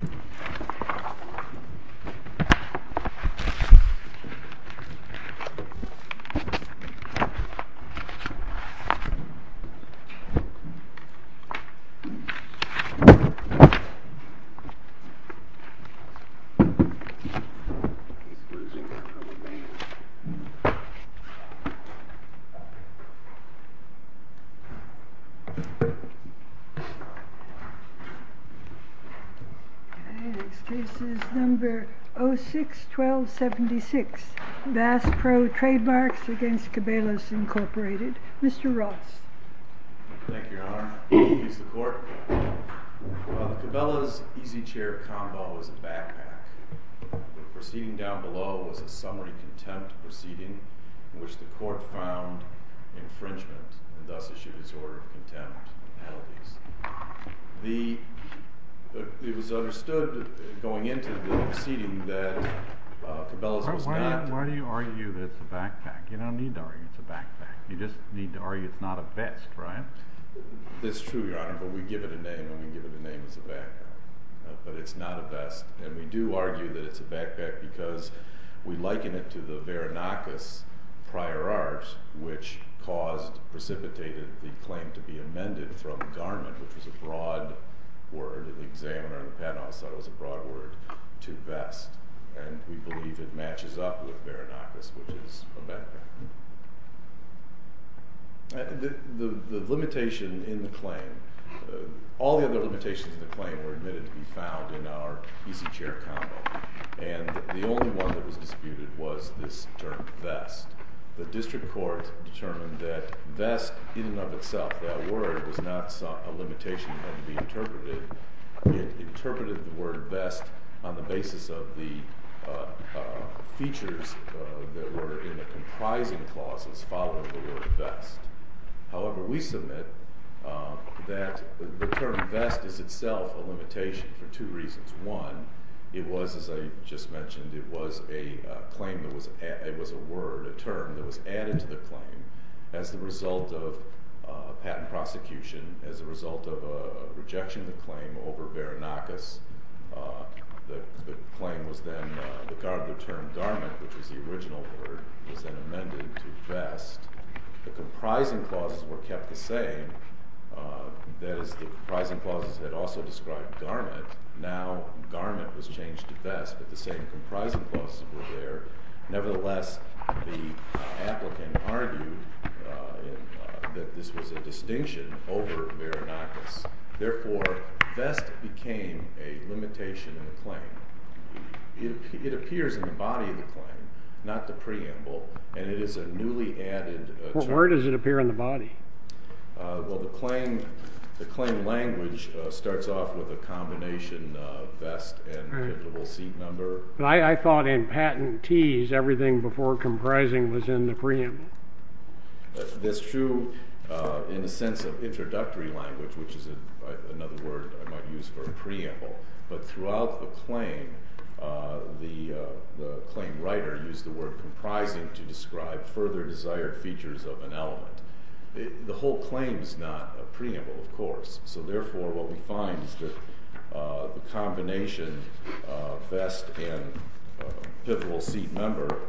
He's losing it from the base. Next case is number 06-1276, Bass Pro Trademarks against Cabela's Incorporated. Mr. Ross. Thank you, Your Honor. Excuse the court. The proceeding down below was a summary contempt proceeding in which the court found infringement and thus issued his order of contempt and penalties. It was understood going into the proceeding that Cabela's was not- Why do you argue that it's a backpack? You don't need to argue it's a backpack. You just need to argue it's not a vest, right? It's true, Your Honor, but we give it a name and we give it a name as a backpack. But it's not a vest. And we do argue that it's a backpack because we liken it to the Veronikis prior art, which caused, precipitated the claim to be amended from garment, which was a broad word, and the examiner on the panel thought it was a broad word, to vest. And we believe it matches up with Veronikis, which is a backpack. The limitation in the claim, all the other limitations in the claim were admitted to our easy chair combo. And the only one that was disputed was this term, vest. The district court determined that vest in and of itself, that word, was not a limitation that had to be interpreted. It interpreted the word vest on the basis of the features that were in the comprising clauses following the word vest. However, we submit that the term vest is itself a limitation for two reasons. One, it was, as I just mentioned, it was a claim that was, it was a word, a term that was added to the claim as the result of patent prosecution, as a result of a rejection claim over Baranakis. The claim was then, the term garment, which was the original word, was then amended to vest. The comprising clauses were kept the same, that is, the comprising clauses that also described garment. Now, garment was changed to vest, but the same comprising clauses were there. Nevertheless, the applicant argued that this was a distinction over Baranakis. Therefore, vest became a limitation in the claim. It appears in the body of the claim, not the preamble, and it is a newly added term. Where does it appear in the body? Well, the claim, the claim language starts off with a combination of vest and individual seat number. But I thought in patent tease, everything before comprising was in the preamble. That's true in the sense of introductory language, which is another word I might use for a preamble. But throughout the claim, the claim writer used the word comprising to describe further desired features of an element. The whole claim is not a preamble, of course. So therefore, what we find is that the combination of vest and pivotal seat number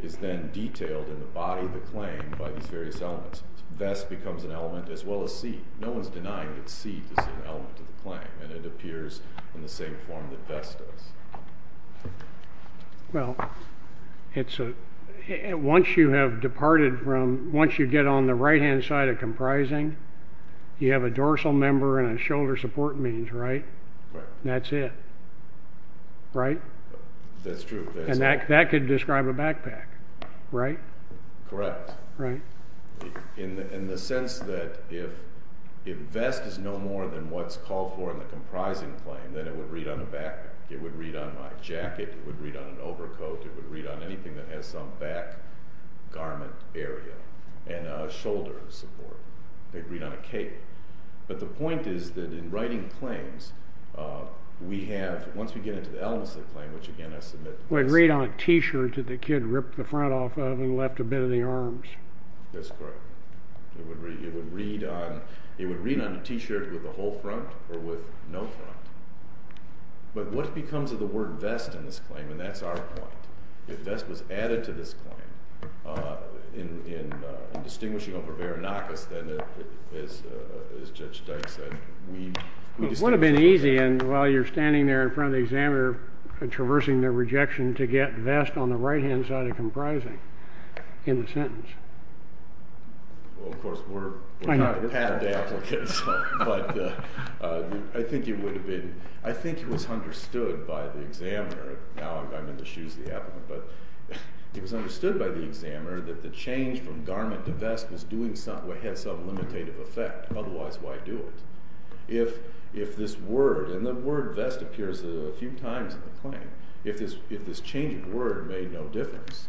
is then detailed in the body of the claim by these various elements. Vest becomes an element as well as seat. No one's denying that seat is an element of the claim, and it appears in the same form that vest does. Well, it's a, once you have departed from, once you get on the right-hand side of comprising, you have a dorsal member and a shoulder support means, right? Right. That's it. Right? That's true. And that could describe a backpack, right? Correct. Right. In the sense that if vest is no more than what's called for in the comprising claim, and then it would read on the back, it would read on my jacket, it would read on an overcoat, it would read on anything that has some back garment area, and a shoulder support. It'd read on a cape. But the point is that in writing claims, we have, once we get into the elements of the claim, which again I submit... It would read on a t-shirt that the kid ripped the front off of and left a bit of the arms. That's correct. It would read on a t-shirt with a whole front or with no front. But what becomes of the word vest in this claim? And that's our point. If vest was added to this claim in distinguishing over veronikis, then as Judge Dyke said, we... It would have been easy, and while you're standing there in front of the examiner, traversing the rejection to get vest on the right-hand side of comprising in the sentence. Well, of course, we're not padded applicants, but I think it would have been... I think it was understood by the examiner, now I'm in the shoes of the applicant, but it was understood by the examiner that the change from garment to vest was doing something, had some limitative effect. Otherwise, why do it? If this word... And the word vest appears a few times in the claim. If this changing word made no difference,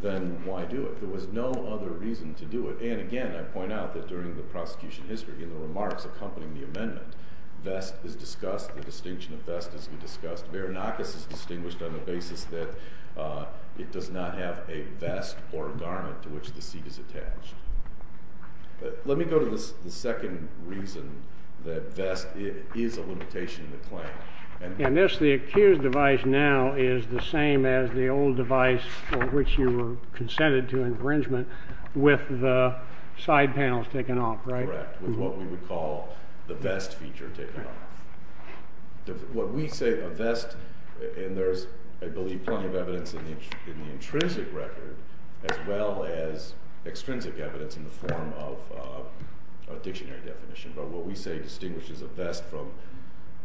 then why do it? There was no other reason to do it. And again, I point out that during the prosecution history, in the remarks accompanying the amendment, vest is discussed, the distinction of vest is discussed. Veronikis is distinguished on the basis that it does not have a vest or a garment to which the seat is attached. Let me go to the second reason that vest is a limitation in the claim. And this, the accused device now, is the same as the old device for which you were consented to infringement with the side panels taken off, right? Correct, with what we would call the vest feature taken off. What we say a vest... And there's, I believe, plenty of evidence in the intrinsic record, as well as extrinsic evidence in the form of a dictionary definition. But what we say distinguishes a vest from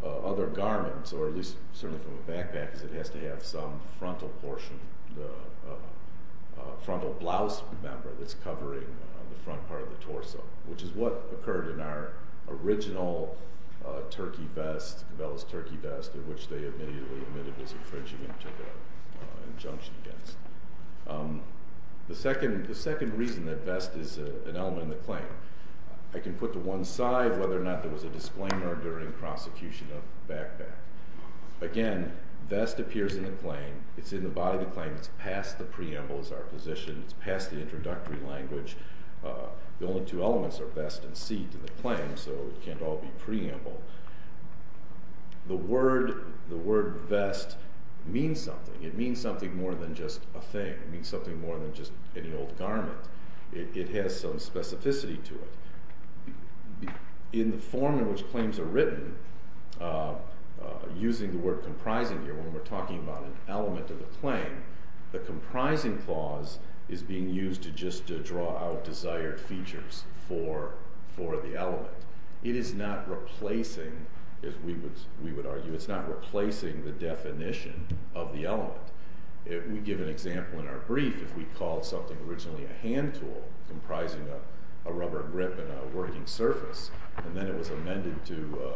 other garments, or at least certainly from a backpack, is it has to have some frontal portion, the frontal blouse member that's covering the front part of the torso, which is what occurred in our original turkey vest, Cabela's turkey vest, which they admitted was infringing and took an injunction against. The second reason that vest is an element in the claim, I can put to one side whether or not there was a disclaimer during prosecution of the backpack. Again, vest appears in the claim, it's in the body of the claim, it's past the preamble as our position, it's past the introductory language. The only two elements are vest and seat in the claim, so it can't all be preamble. The word vest means something. It means something more than just a thing. It means something more than just any old garment. It has some specificity to it. In the form in which claims are written, using the word comprising here, when we're talking about an element of a claim, the comprising clause is being used just to draw out desired features for the element. It is not replacing, as we would argue, it's not replacing the definition of the element. If we give an example in our brief, if we called something originally a hand tool, comprising a rubber grip and a working surface, and then it was amended to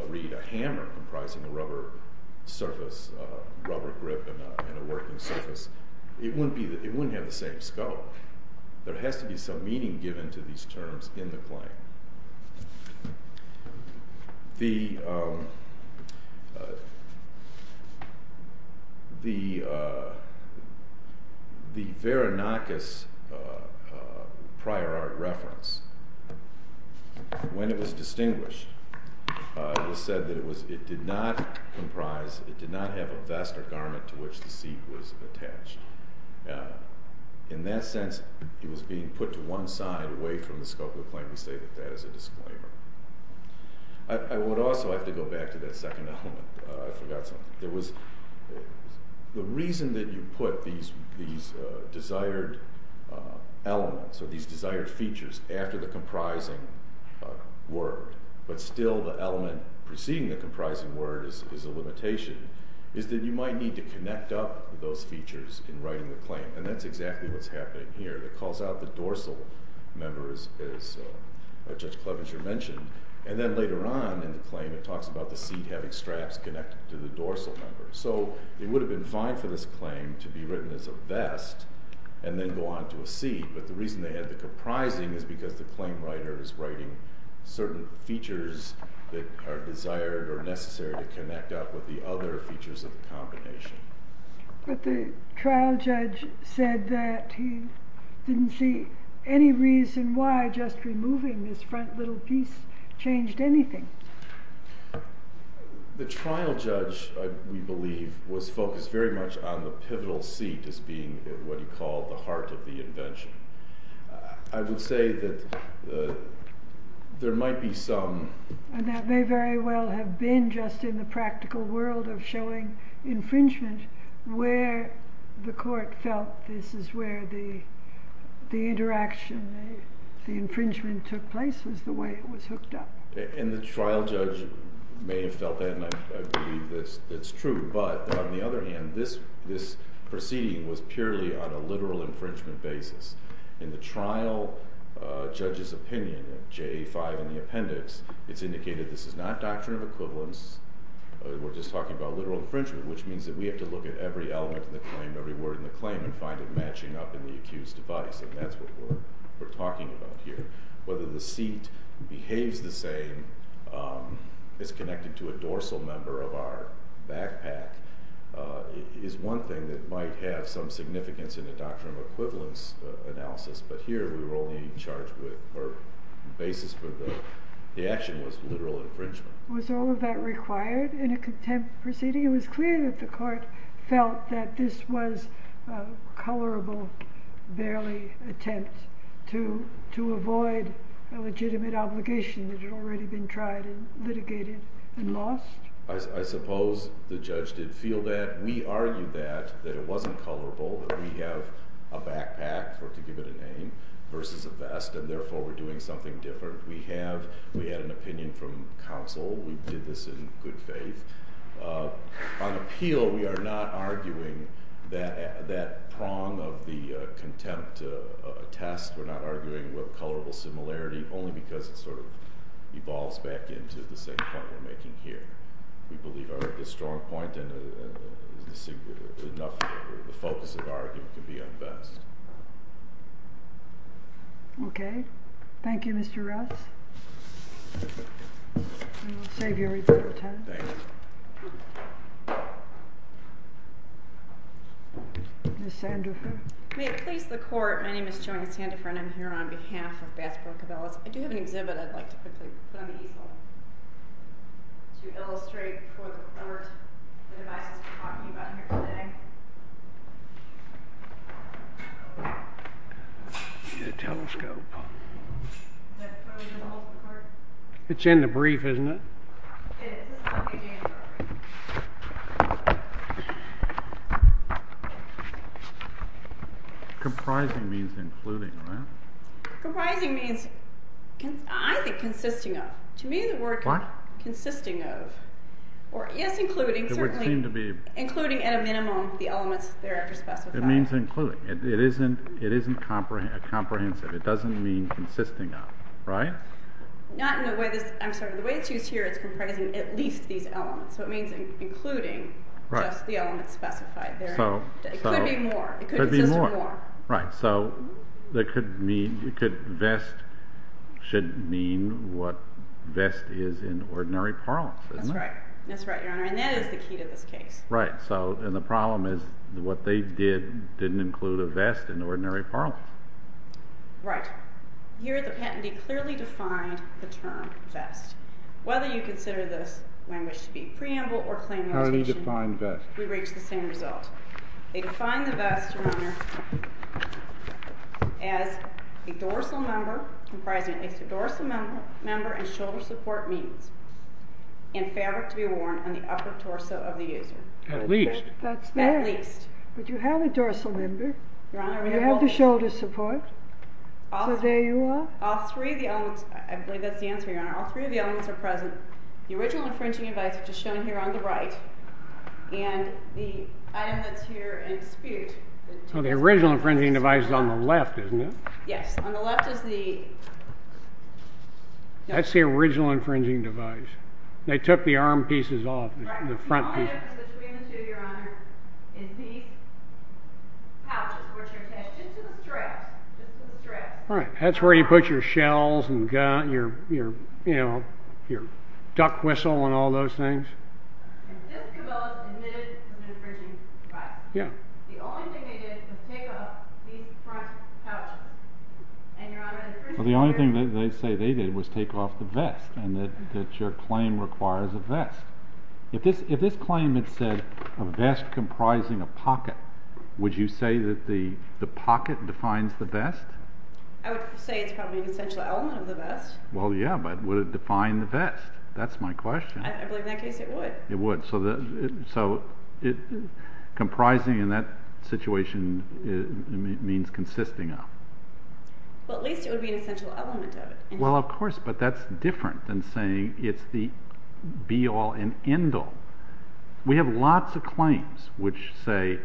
read a hammer comprising a rubber surface, a rubber grip and a working surface, it wouldn't have the same scope. There has to be some meaning given to these terms in the claim. The Veronikis prior art reference, when it was distinguished, it was said that it did not comprise, it did not have a vest or garment to which the seat was attached. In that sense, it was being put to one side away from the scope of the claim. We say that that is a disclaimer. I would also have to go back to that second element. I forgot something. The reason that you put these desired elements or these desired features after the comprising word, but still the element preceding the comprising word is a limitation, is that you might need to connect up those features in writing the claim. That's exactly what's happening here. It calls out the dorsal members, as Judge Clevenger mentioned, and then later on in the claim it talks about the seat having straps connected to the dorsal members. It would have been fine for this claim to be written as a vest and then go on to a seat, but the reason they had the comprising is because the claim writer is writing certain features that are desired or necessary to connect up with the other features of the combination. But the trial judge said that he didn't see any reason why just removing this front little piece changed anything. The trial judge, we believe, was focused very much on the pivotal seat as being what he called the heart of the invention. I would say that there might be some... And that may very well have been just in the practical world of showing infringement where the court felt this is where the interaction, the infringement took place, was the way it was hooked up. And the trial judge may have felt that, and I believe that's true, but on the other hand, this proceeding was purely on a literal infringement basis. In the trial judge's opinion, J.A. 5 in the appendix, it's indicated this is not doctrine of equivalence. We're just talking about literal infringement, which means that we have to look at every element of the claim, every word in the claim, and find it matching up in the accused's device, and that's what we're talking about here. Whether the seat behaves the same as connected to a dorsal member of our backpack is one thing that might have some significance in the doctrine of equivalence analysis, but here we were only charged with, or the basis for the action was literal infringement. Was all of that required in a contempt proceeding? It was clear that the court felt that this was a colorable, barely attempt to avoid a legitimate obligation that had already been tried and litigated and lost. I suppose the judge did feel that. We argued that, that it wasn't colorable, that we have a backpack, or to give it a name, versus a vest, and therefore we're doing something different. We had an opinion from counsel. We did this in good faith. On appeal, we are not arguing that prong of the contempt test. We're not arguing what colorable similarity, only because it sort of evolves back into the same point we're making here. We believe the strong point and the focus of argument can be on vest. Okay. Thank you, Mr. Rouse. I'll save you a reasonable time. Thanks. Ms. Sandifer. May it please the court, my name is Joanne Sandifer, and I'm here on behalf of Baskerville Cabellas. I do have an exhibit I'd like to quickly put on the equal to illustrate for the court the devices we're talking about here today. Get a telescope. It's in the brief, isn't it? Comprising means including, right? Comprising means, I think, consisting of. What? Consisting of. Yes, including, certainly. It would seem to be. Including at a minimum the elements there after specified. It means including. It isn't comprehensive. It doesn't mean consisting of, right? The way it's used here, it's comprising at least these elements. So it means including just the elements specified there. It could be more. It could consist of more. Right. So vest should mean what vest is in ordinary parlance, isn't it? That's right, Your Honor. And that is the key to this case. Right. And the problem is what they did didn't include a vest in ordinary parlance. Right. Here the patentee clearly defined the term vest. Whether you consider this language to be preamble or claim notation. How do you define vest? We reach the same result. They define the vest, Your Honor, as a dorsal member comprising a dorsal member and shoulder support means and fabric to be worn on the upper torso of the user. At least. At least. But you have a dorsal member. You have the shoulder support. So there you are. I believe that's the answer, Your Honor. All three of the elements are present. The original infringing device, which is shown here on the right, and the item that's here in dispute. The original infringing device is on the left, isn't it? Yes. On the left is the... That's the original infringing device. They took the arm pieces off, the front pieces. Right. The only difference between the two, Your Honor, is these pouches, which are attached to the straps. Right. That's where you put your shells and your, you know, your duck whistle and all those things. And this cabal is admitted to the infringing device. Yeah. The only thing they did was take off these front pouches. Well, the only thing they say they did was take off the vest and that your claim requires a vest. If this claim had said a vest comprising a pocket, would you say that the pocket defines the vest? I would say it's probably an essential element of the vest. Well, yeah, but would it define the vest? That's my question. I believe in that case it would. It would. So comprising in that situation means consisting of. Well, at least it would be an essential element of it. Well, of course, but that's different than saying it's the be-all and end-all. We have lots of claims which say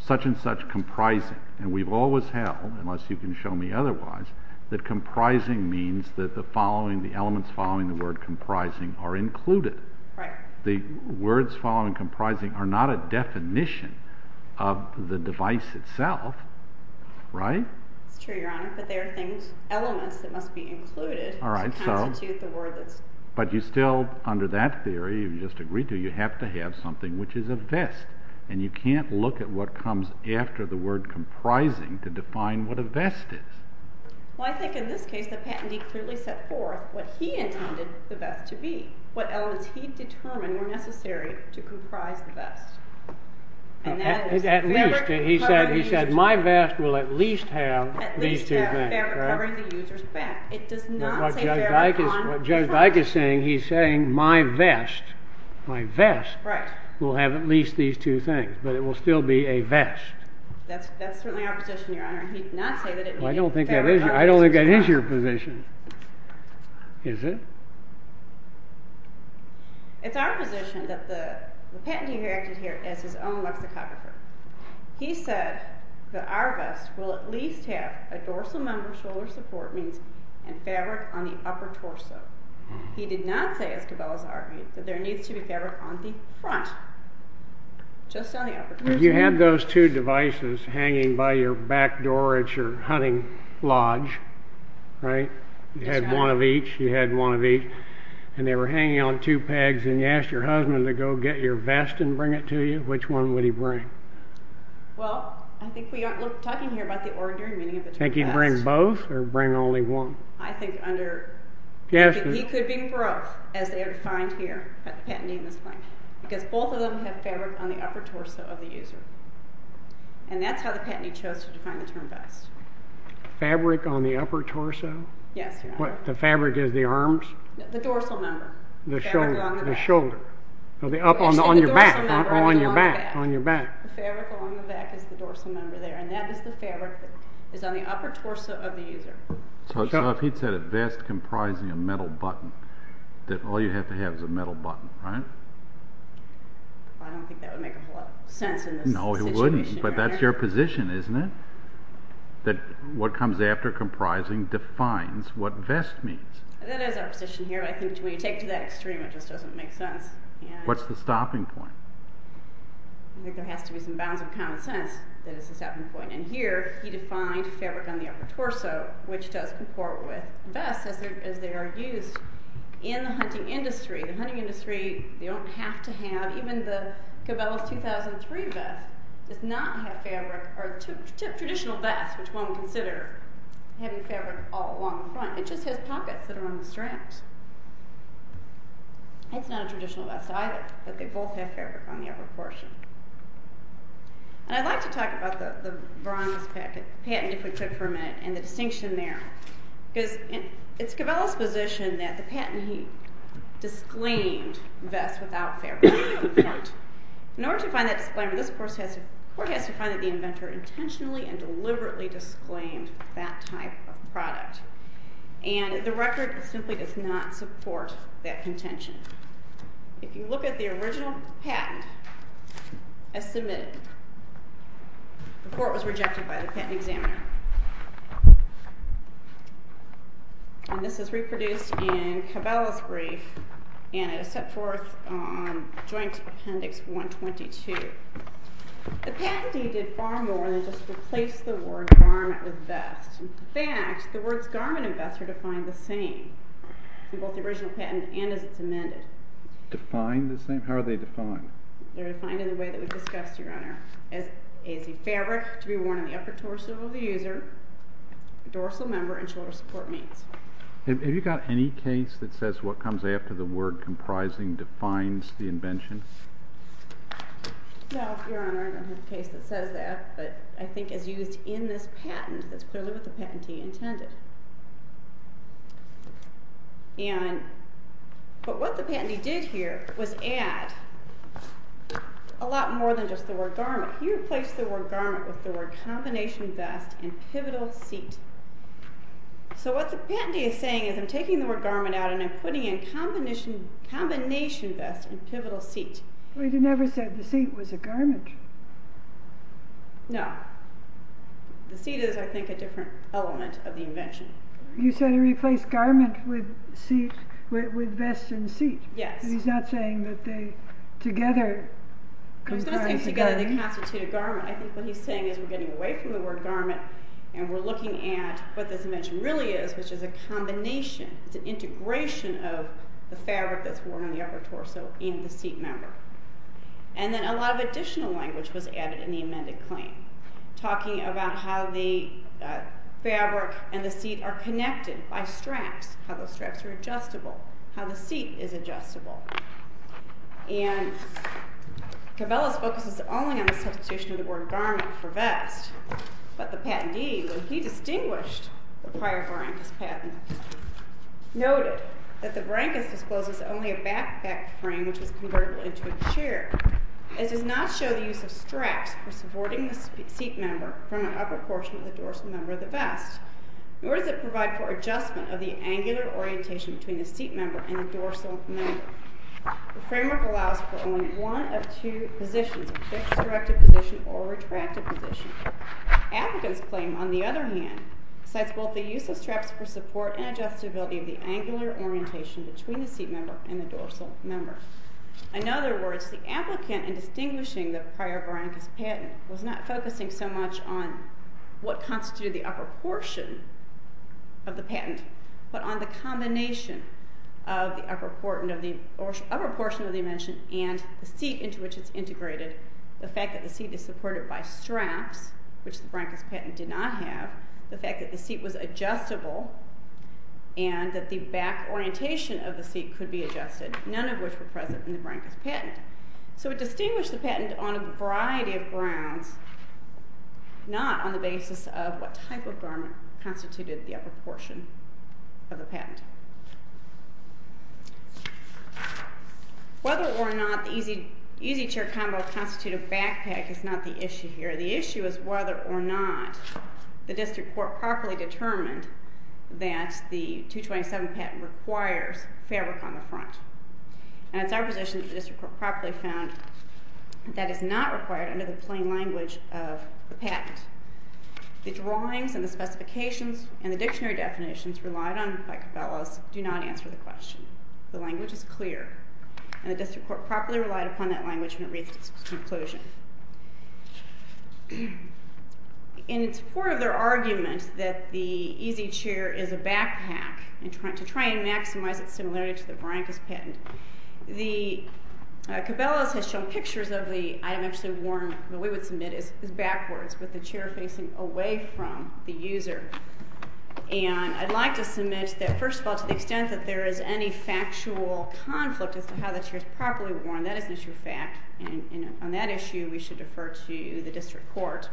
such and such comprising, and we've always held, unless you can show me otherwise, that comprising means that the following, the elements following the word comprising are included. Right. The words following comprising are not a definition of the device itself, right? It's true, Your Honor, but there are elements that must be included to constitute the word. But you still, under that theory you just agreed to, you have to have something which is a vest, and you can't look at what comes after the word comprising to define what a vest is. Well, I think in this case the patentee clearly set forth what he intended the vest to be, what elements he determined were necessary to comprise the vest. At least, he said, my vest will at least have these two things. At least have fabric covering the user's back. It does not say fabric on people. What Judge Dyke is saying, he's saying my vest, my vest, will have at least these two things, but it will still be a vest. That's certainly our position, Your Honor. Well, I don't think that is your position. Is it? It's our position that the patentee here, as his own lexicographer, he said that our vest will at least have a dorsal member, shoulder support, and fabric on the upper torso. He did not say, as Cabela's argued, that there needs to be fabric on the front, just on the upper torso. You had those two devices hanging by your back door at your hunting lodge, right? You had one of each, you had one of each, and they were hanging on two pegs, and you asked your husband to go get your vest and bring it to you. Which one would he bring? Well, I think we aren't talking here about the ordinary meaning of the two vests. Think he'd bring both or bring only one? I think under, he could be broke, as they are defined here, because both of them have fabric on the upper torso of the user, and that's how the patentee chose to define the term vest. Fabric on the upper torso? Yes, Your Honor. The fabric is the arms? The dorsal member. The shoulder. The fabric along the back. On your back. The fabric along the back is the dorsal member there, and that is the fabric that is on the upper torso of the user. So if he'd said a vest comprising a metal button, that all you'd have to have is a metal button, right? I don't think that would make a whole lot of sense in this situation. No, it wouldn't, but that's your position, isn't it? That what comes after comprising defines what vest means. That is our position here. I think when you take it to that extreme, it just doesn't make sense. What's the stopping point? I think there has to be some bounds of common sense that is the stopping point. And here he defined fabric on the upper torso, which does comport with vests as they are used in the hunting industry. The hunting industry, they don't have to have, even the Cabela's 2003 vest does not have fabric or traditional vests, which one would consider having fabric all along the front. It just has pockets that are on the straps. It's not a traditional vest either, but they both have fabric on the upper portion. I'd like to talk about the bronze patent if we could for a minute and the distinction there. It's Cabela's position that the patent he disclaimed vests without fabric. In order to find that disclaimer, this court has to find that the inventor intentionally and deliberately disclaimed that type of product. And the record simply does not support that contention. If you look at the original patent as submitted, the court was rejected by the patent examiner. And this is reproduced in Cabela's brief, and it is set forth on Joint Appendix 122. The patentee did far more than just replace the word garment with vest. In fact, the words garment and vest are defined the same in both the original patent and as it's amended. Defined the same? How are they defined? They're defined in the way that we discussed, Your Honor, as a fabric to be worn on the upper torso of the user, dorsal member, and shoulder support means. Have you got any case that says what comes after the word comprising defines the invention? No, Your Honor, I don't have a case that says that, but I think as used in this patent, that's clearly what the patentee intended. But what the patentee did here was add a lot more than just the word garment. He replaced the word garment with the word combination vest and pivotal seat. So what the patentee is saying is I'm taking the word garment out and I'm putting in combination vest and pivotal seat. But he never said the seat was a garment. No. The seat is, I think, a different element of the invention. You said he replaced garment with seat, with vest and seat. Yes. He's not saying that they together comprise a garment. He's not saying together they constitute a garment. I think what he's saying is we're getting away from the word garment and we're looking at what this invention really is, which is a combination, it's an integration of the fabric that's worn on the upper torso and the seat member. And then a lot of additional language was added in the amended claim, talking about how the fabric and the seat are connected by straps, how those straps are adjustable, how the seat is adjustable. And Cabelas focuses only on the substitution of the word garment for vest, but the patentee, when he distinguished the prior Brancas patent, noted that the Brancas discloses only a backpack frame, which was convertible into a chair. It does not show the use of straps for supporting the seat member from an upper portion of the dorsal member of the vest, nor does it provide for adjustment of the angular orientation between the seat member and the dorsal member. The framework allows for only one of two positions, a fixed directed position or retracted position. Applicant's claim, on the other hand, cites both the use of straps for support and adjustability of the angular orientation between the seat member and the dorsal member. In other words, the applicant, in distinguishing the prior Brancas patent, was not focusing so much on what constituted the upper portion of the patent, but on the combination of the upper portion of the invention and the seat into which it's integrated, the fact that the seat is supported by straps, which the Brancas patent did not have, the fact that the seat was adjustable, and that the back orientation of the seat could be adjusted, none of which were present in the Brancas patent. So it distinguished the patent on a variety of grounds, not on the basis of what type of garment constituted the upper portion of the patent. Whether or not the easy chair combo constituted a backpack is not the issue here. The issue is whether or not the district court properly determined that the 227 patent requires fabric on the front. And it's our position that the district court properly found that is not required under the plain language of the patent. The drawings and the specifications and the dictionary definitions relied on by Cabello's do not answer the question. The language is clear. And the district court properly relied upon that language when it reached its conclusion. In support of their argument that the easy chair is a backpack, to try and maximize its similarity to the Brancas patent, Cabello's has shown pictures of the item actually worn, the way we would submit it, is backwards, with the chair facing away from the user. And I'd like to submit that, first of all, to the extent that there is any factual conflict on that issue, we should defer to the district court.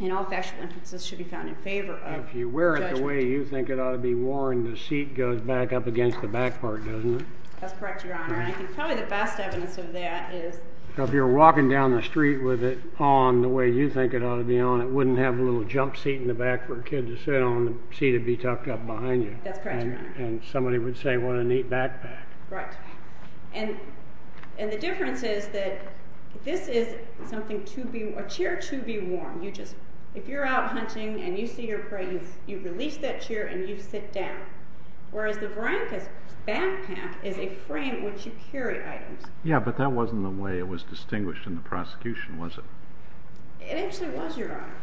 And all factual instances should be found in favor of the judge. If you wear it the way you think it ought to be worn, the seat goes back up against the back part, doesn't it? That's correct, Your Honor. And I think probably the best evidence of that is... If you're walking down the street with it on the way you think it ought to be on, it wouldn't have a little jump seat in the back for a kid to sit on. The seat would be tucked up behind you. That's correct, Your Honor. And somebody would say, what a neat backpack. Right. And the difference is that this is a chair to be worn. If you're out hunting and you see your prey, you release that chair and you sit down. Whereas the Brianca's backpack is a frame in which you carry items. Yeah, but that wasn't the way it was distinguished in the prosecution, was it? It actually was, Your Honor.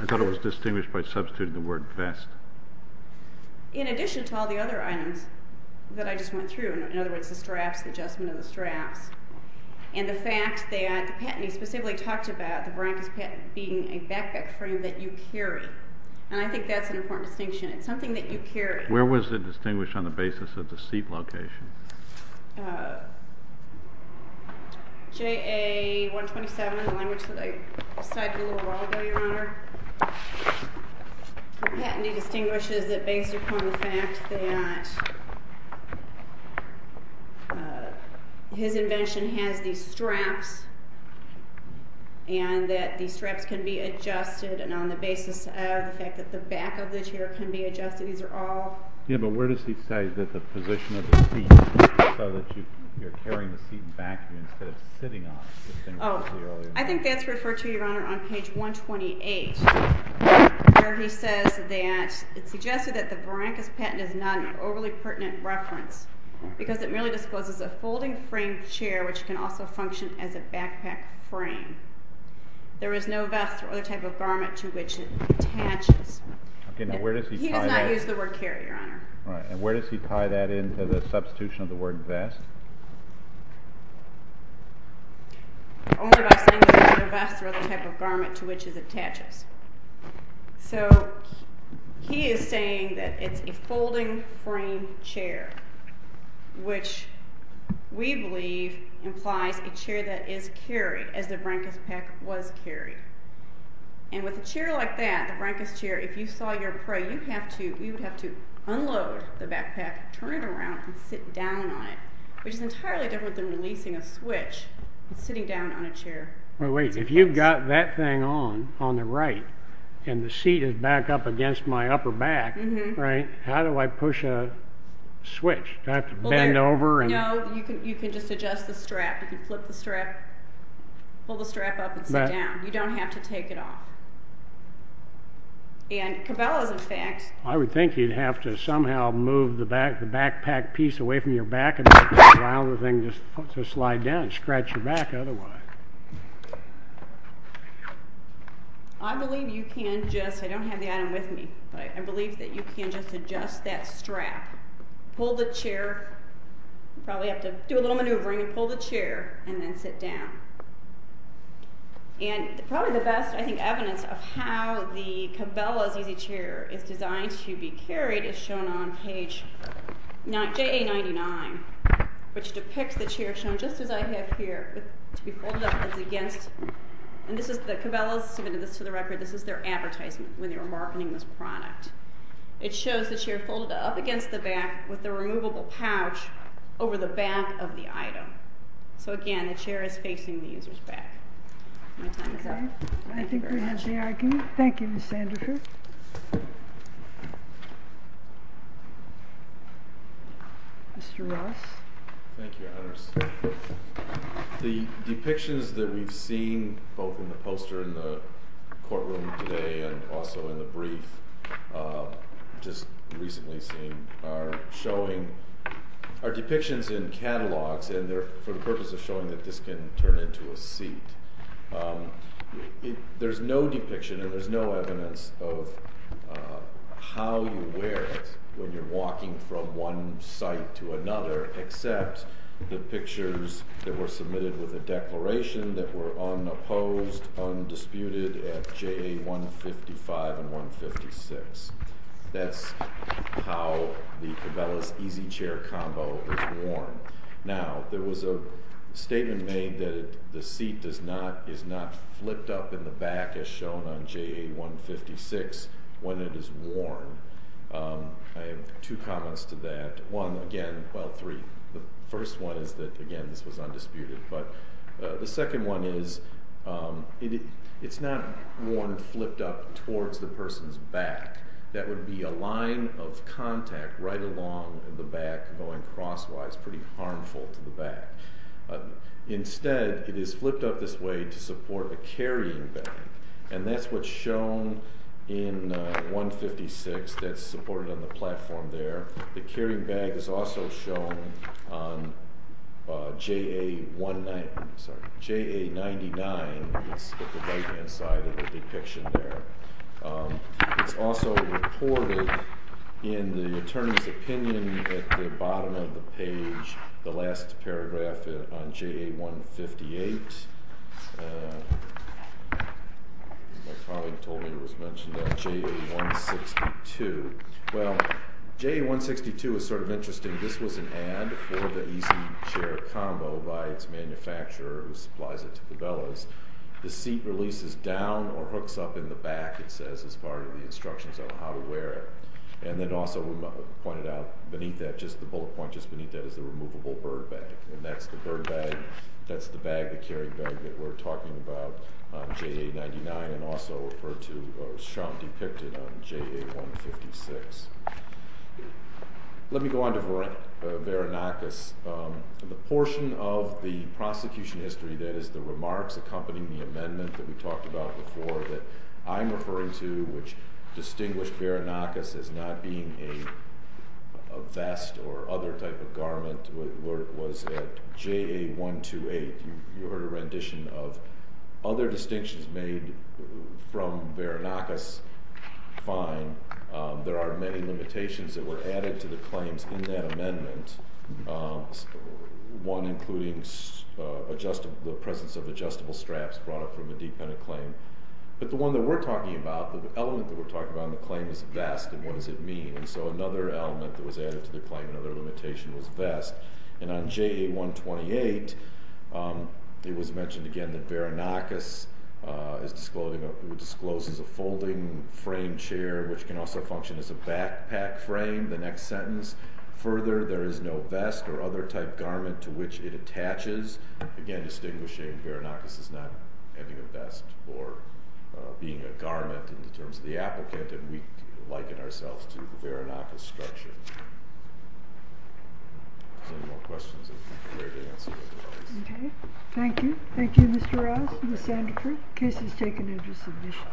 I thought it was distinguished by substituting the word vest. In addition to all the other items that I just went through, in other words, the straps, the adjustment of the straps, and the fact that the patentee specifically talked about the Brianca's being a backpack frame that you carry. And I think that's an important distinction. It's something that you carry. Where was it distinguished on the basis of the seat location? JA-127, the language that I cited a little while ago, Your Honor. The patentee distinguishes it based upon the fact that his invention has these straps, and that these straps can be adjusted, and on the basis of the fact that the back of the chair can be adjusted. These are all— Yeah, but where does he say that the position of the seat, so that you're carrying the seat in the back instead of sitting on it? Oh, I think that's referred to, Your Honor, on page 128. Where he says that it's suggested that the Brianca's patent is not an overly pertinent reference because it merely discloses a folding frame chair, which can also function as a backpack frame. There is no vest or other type of garment to which it attaches. Okay, now where does he tie that? He does not use the word carry, Your Honor. All right, and where does he tie that into the substitution of the word vest? Only by saying that it's not a vest or other type of garment to which it attaches. So he is saying that it's a folding frame chair, which we believe implies a chair that is carried, as the Brianca's pack was carried. And with a chair like that, the Brianca's chair, if you saw your prey, you would have to unload the backpack, turn it around, and sit down on it. Which is entirely different than releasing a switch and sitting down on a chair. Wait, if you've got that thing on, on the right, and the seat is back up against my upper back, how do I push a switch? Do I have to bend over? No, you can just adjust the strap. You can flip the strap, pull the strap up, and sit down. You don't have to take it off. And Cabela's, in fact… I would think you'd have to somehow move the backpack piece away from your back and let the round thing just slide down and scratch your back otherwise. I believe you can just, I don't have the item with me, but I believe that you can just adjust that strap. Pull the chair, you probably have to do a little maneuvering, and pull the chair, and then sit down. And probably the best, I think, evidence of how the Cabela's easy chair is designed to be carried is shown on page JA99, which depicts the chair shown just as I have here, to be folded up against. And this is, the Cabela's submitted this to the record, this is their advertisement when they were marketing this product. It shows the chair folded up against the back with the removable pouch over the back of the item. So again, the chair is facing the user's back. My time is up. Thank you very much. Thank you, Ms. Sandefur. Mr. Ross. Thank you, Your Honors. The depictions that we've seen, both in the poster in the courtroom today, and also in the brief just recently seen, are showing, are depictions in catalogs, and they're for the purpose of showing that this can turn into a seat. There's no depiction, and there's no evidence of how you wear it when you're walking from one site to another, except the pictures that were submitted with a declaration that were unopposed, undisputed at JA155 and 156. That's how the Cabela's easy chair combo is worn. Now, there was a statement made that the seat is not flipped up in the back, as shown on JA156, when it is worn. I have two comments to that. One, again, well, three. The first one is that, again, this was undisputed. The second one is it's not worn flipped up towards the person's back. That would be a line of contact right along the back going crosswise, pretty harmful to the back. Instead, it is flipped up this way to support the carrying bag, and that's what's shown in 156. That's supported on the platform there. The carrying bag is also shown on JA99. It's at the right-hand side of the depiction there. It's also reported in the attorney's opinion at the bottom of the page, the last paragraph on JA158. My colleague told me it was mentioned on JA162. Well, JA162 is sort of interesting. This was an ad for the easy chair combo by its manufacturer, who supplies it to Cabela's. The seat releases down or hooks up in the back, it says, as part of the instructions on how to wear it. Then also pointed out beneath that, just the bullet point just beneath that, is the removable bird bag, and that's the bird bag. That's the bag, the carrying bag, that we're talking about on JA99 and also referred to as shown depicted on JA156. Let me go on to Verenakis. The portion of the prosecution history, that is, the remarks accompanying the amendment that we talked about before that I'm referring to, which distinguished Verenakis as not being a vest or other type of garment, was at JA128. You heard a rendition of other distinctions made from Verenakis. Fine. There are many limitations that were added to the claims in that amendment, one including the presence of adjustable straps brought up from a defendant claim. But the one that we're talking about, the element that we're talking about in the claim is vest, and what does it mean? So another element that was added to the claim, another limitation, was vest. On JA128, it was mentioned again that Verenakis discloses a folding frame chair, which can also function as a backpack frame, the next sentence. Further, there is no vest or other type garment to which it attaches. Again, distinguishing Verenakis as not having a vest or being a garment in terms of the applicant, and we liken ourselves to the Verenakis structure. Any more questions? Okay. Thank you. Thank you, Mr. Ross and Ms. Sandiford. The case is taken into submission.